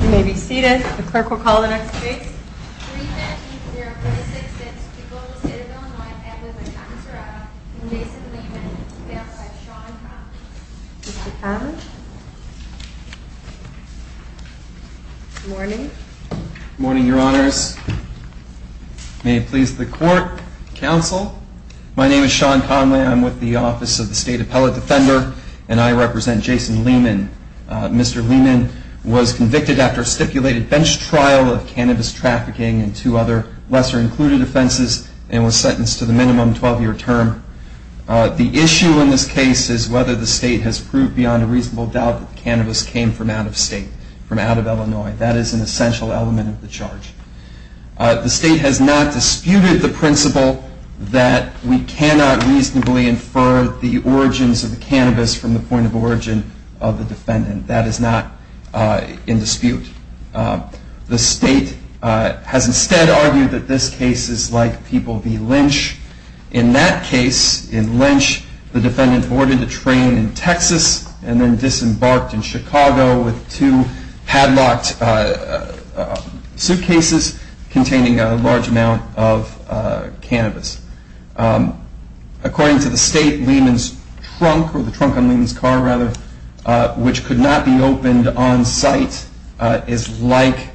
You may be seated. The clerk will call the next case. 3-19-046-6, People v. Citadel 9, Edwards v. Montserrat v. Jason Lehman, bailed by Sean Conley. Mr. Conley. Good morning. Good morning, Your Honors. May it please the Court, Counsel. My name is Sean Conley. I'm with the Office of the State Appellate Defender, and I represent Jason Lehman. Mr. Lehman was convicted after a stipulated bench trial of cannabis trafficking and two other lesser-included offenses, and was sentenced to the minimum 12-year term. The issue in this case is whether the State has proved beyond a reasonable doubt that cannabis came from out of state, from out of Illinois. That is an essential element of the charge. The State has not disputed the principle that we cannot reasonably infer the origins of the cannabis from the point of origin of the defendant. That is not in dispute. The State has instead argued that this case is like People v. Lynch. In that case, in Lynch, the defendant boarded a train in Texas and then disembarked in Chicago with two padlocked suitcases containing a large amount of cannabis. According to the State, Lehman's trunk, or the trunk on Lehman's car, rather, which could not be opened on site is like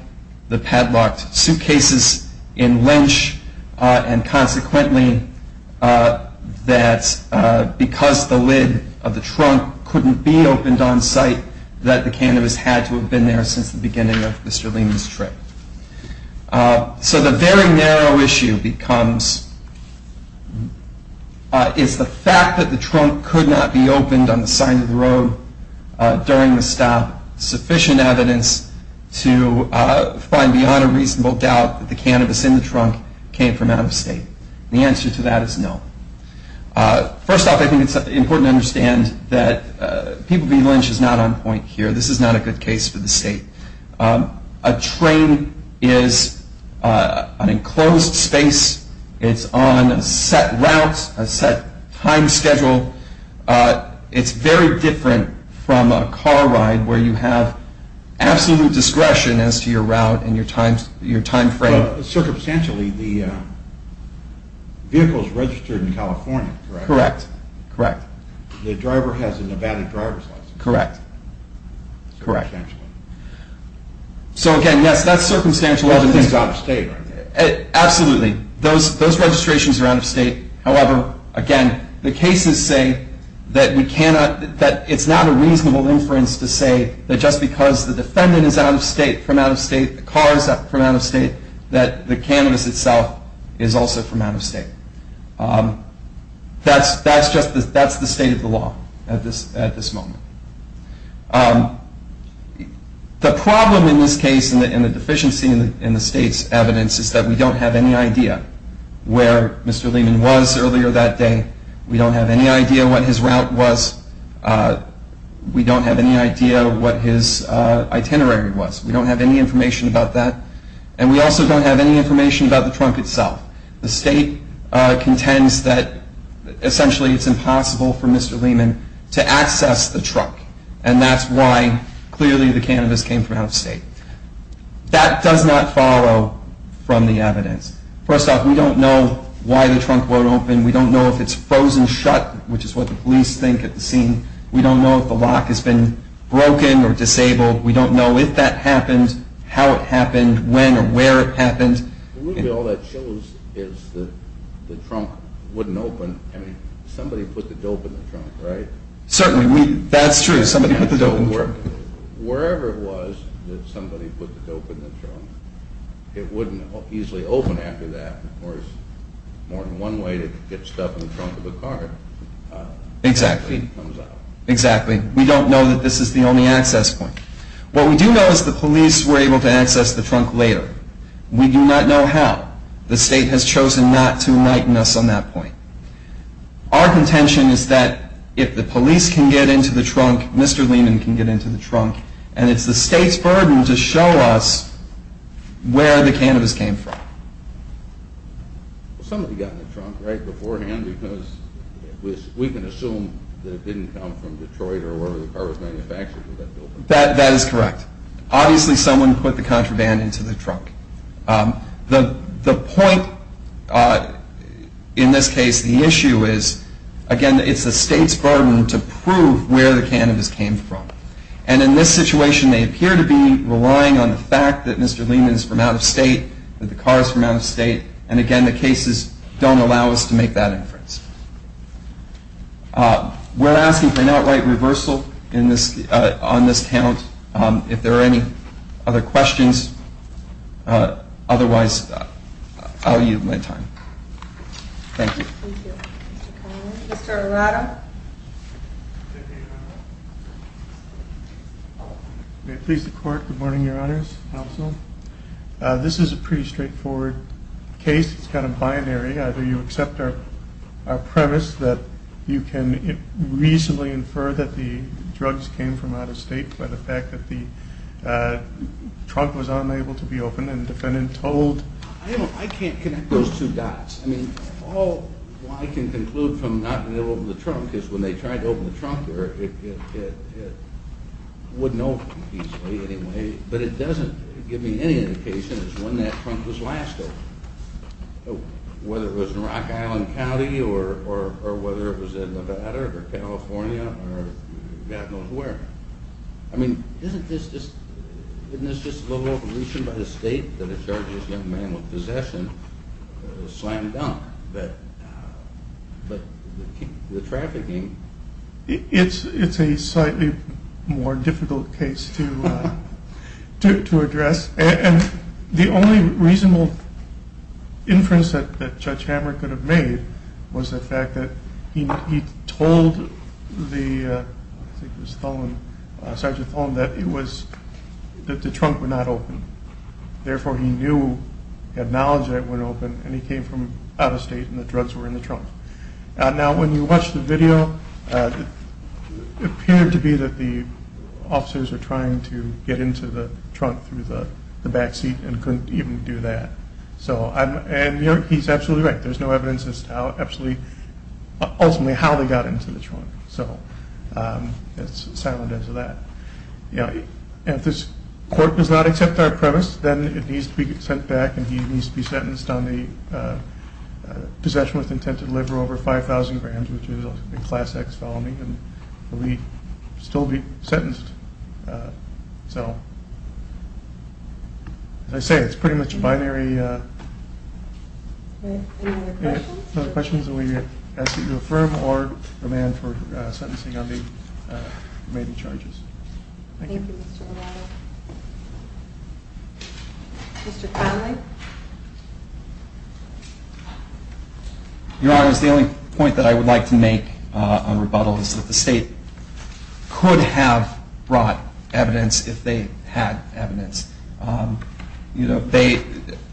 the padlocked suitcases in Lynch, and consequently, that because the lid of the trunk couldn't be opened on site, that the cannabis had to have been there since the beginning of Mr. Lehman's trip. So the very narrow issue is the fact that the trunk could not be opened on the side of the road during the stop, sufficient evidence to find beyond a reasonable doubt that the cannabis in the trunk came from out of state. The answer to that is no. First off, I think it's important to understand that People v. Lynch is not on point here. This is not a good case for the State. A train is an enclosed space. It's on a set route, a set time schedule. It's very different from a car ride where you have absolute discretion as to your route and your time frame. Well, circumstantially, the vehicle is registered in California, correct? Correct, correct. The driver has a Nevada driver's license? Correct, correct. So again, yes, that's circumstantial evidence. Everything is out of state, right? Absolutely. Those registrations are out of state. However, again, the cases say that it's not a reasonable inference to say that just because the defendant is out of state, from out of state, the car is from out of state, that the cannabis itself is also from out of state. That's the state of the law at this moment. The problem in this case, and the deficiency in the State's evidence, is that we don't have any idea where Mr. Lehman was earlier that day. We don't have any idea what his route was. We don't have any idea what his itinerary was. We don't have any information about that. And we also don't have any information about the trunk itself. The State contends that essentially it's impossible for Mr. Lehman to access the trunk, and that's why clearly the cannabis came from out of state. That does not follow from the evidence. First off, we don't know why the trunk won't open. We don't know if it's frozen shut, which is what the police think at the scene. We don't know if the lock has been broken or disabled. We don't know if that happened, how it happened, when or where it happened. Maybe all that shows is that the trunk wouldn't open. I mean, somebody put the dope in the trunk, right? Certainly. That's true. Somebody put the dope in the trunk. Wherever it was that somebody put the dope in the trunk, it wouldn't easily open after that. Of course, more than one way to get stuff in the trunk of a car. Exactly. We don't know that this is the only access point. What we do know is the police were able to access the trunk later. We do not know how. The state has chosen not to enlighten us on that point. Our contention is that if the police can get into the trunk, Mr. Lehman can get into the trunk, and it's the state's burden to show us where the cannabis came from. Somebody got in the trunk right beforehand, because we can assume that it didn't come from Detroit or wherever the car was manufactured. That is correct. Obviously, someone put the contraband into the trunk. The point in this case, the issue is, again, it's the state's burden to prove where the cannabis came from. And in this situation, they appear to be relying on the fact that Mr. Lehman is from out of state, that the car is from out of state, and, again, the cases don't allow us to make that inference. We're asking for an outright reversal on this count if there are any other questions. Otherwise, I'll use my time. Thank you. Thank you. Mr. Connelly. Mr. Arado. May it please the Court. Good morning, Your Honors. Counsel. This is a pretty straightforward case. It's kind of binary. Either you accept our premise that you can reasonably infer that the drugs came from out of state by the fact that the trunk was unable to be opened and the defendant told. I can't connect those two dots. All I can conclude from not being able to open the trunk is when they tried to open the trunk, it wouldn't open easily anyway. But it doesn't give me any indication as to when that trunk was last opened, whether it was in Rock Island County or whether it was in Nevada or California or God knows where. I mean, isn't this just a little overreason by the state that a charge of young man with possession was slammed down? But the trafficking... It's a slightly more difficult case to address. The only reasonable inference that Judge Hammer could have made was the fact that he told Sergeant Thorn that the trunk would not open. Therefore, he knew, he had knowledge that it wouldn't open, and he came from out of state and the drugs were in the trunk. Now, when you watch the video, it appeared to be that the officers were trying to get into the trunk through the back seat and couldn't even do that. And he's absolutely right. There's no evidence as to ultimately how they got into the trunk. So it's silent as to that. If this court does not accept our premise, then it needs to be sent back and he needs to be sentenced on the possession with intent to deliver over $5,000,000, which is a Class X felony, and he will still be sentenced. So, as I say, it's pretty much binary. Any other questions? Any other questions that we ask that you affirm or demand for sentencing on the remaining charges? Thank you. Thank you, Mr. Arado. Mr. Connelly? Your Honor, it's the only point that I would like to make on rebuttal is that the State could have brought evidence if they had evidence.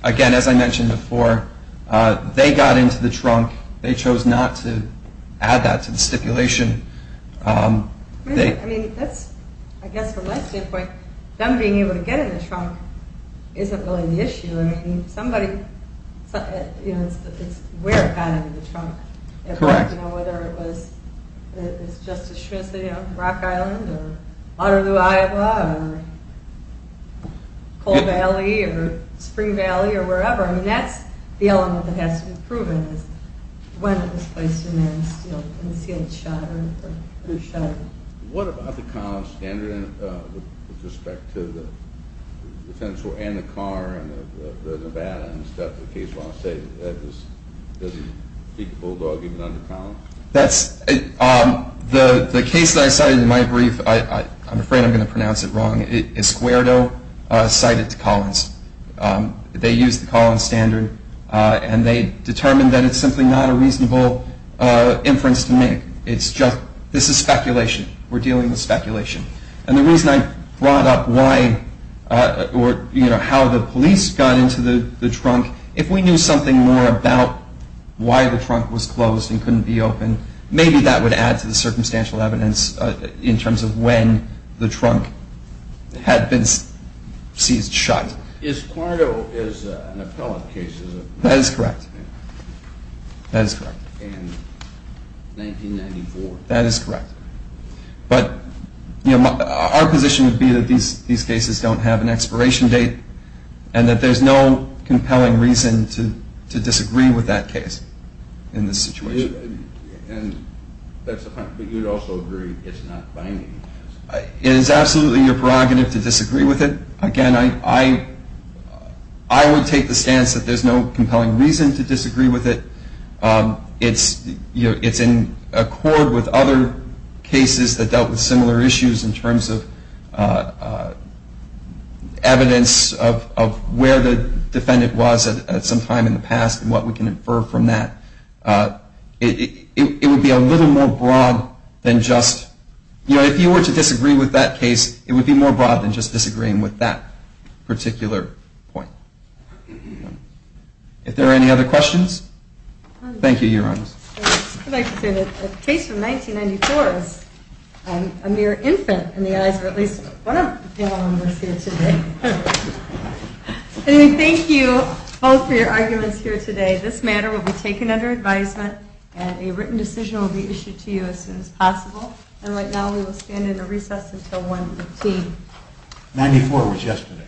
Again, as I mentioned before, they got into the trunk. They chose not to add that to the stipulation. I mean, I guess from my standpoint, them being able to get in the trunk isn't really the issue. I mean, it's where it got into the trunk. Correct. You know, whether it was Justice Schmitz, you know, Rock Island or Waterloo, Iowa or Coal Valley or Spring Valley or wherever. I mean, that's the element that has to be proven is when it was placed in there and, you know, when the seal was shot or who shot it. What about the college standard with respect to the defense and the car and the Nevada and stuff? That's the case that I cited in my brief. I'm afraid I'm going to pronounce it wrong. Esquerdo cited Collins. They used the Collins standard and they determined that it's simply not a reasonable inference to make. It's just this is speculation. We're dealing with speculation. And the reason I brought up why or, you know, how the police got into the trunk, if we knew something more about why the trunk was closed and couldn't be open, maybe that would add to the circumstantial evidence in terms of when the trunk had been seized, shot. Esquerdo is an appellate case, isn't it? That is correct. That is correct. In 1994. That is correct. But, you know, our position would be that these cases don't have an expiration date and that there's no compelling reason to disagree with that case in this situation. And that's the point. But you would also agree it's not binding. It is absolutely your prerogative to disagree with it. Again, I would take the stance that there's no compelling reason to disagree with it. It's in accord with other cases that dealt with similar issues in terms of evidence of where the defendant was at some time in the past and what we can infer from that. It would be a little more broad than just, you know, if you were to disagree with that case, it would be more broad than just disagreeing with that particular point. If there are any other questions? Thank you, Your Honors. I'd like to say that a case from 1994 is a mere infant in the eyes of at least one of the panel members here today. Anyway, thank you both for your arguments here today. This matter will be taken under advisement and a written decision will be issued to you as soon as possible. And right now we will stand in a recess until 1.15. Ninety-four was yesterday.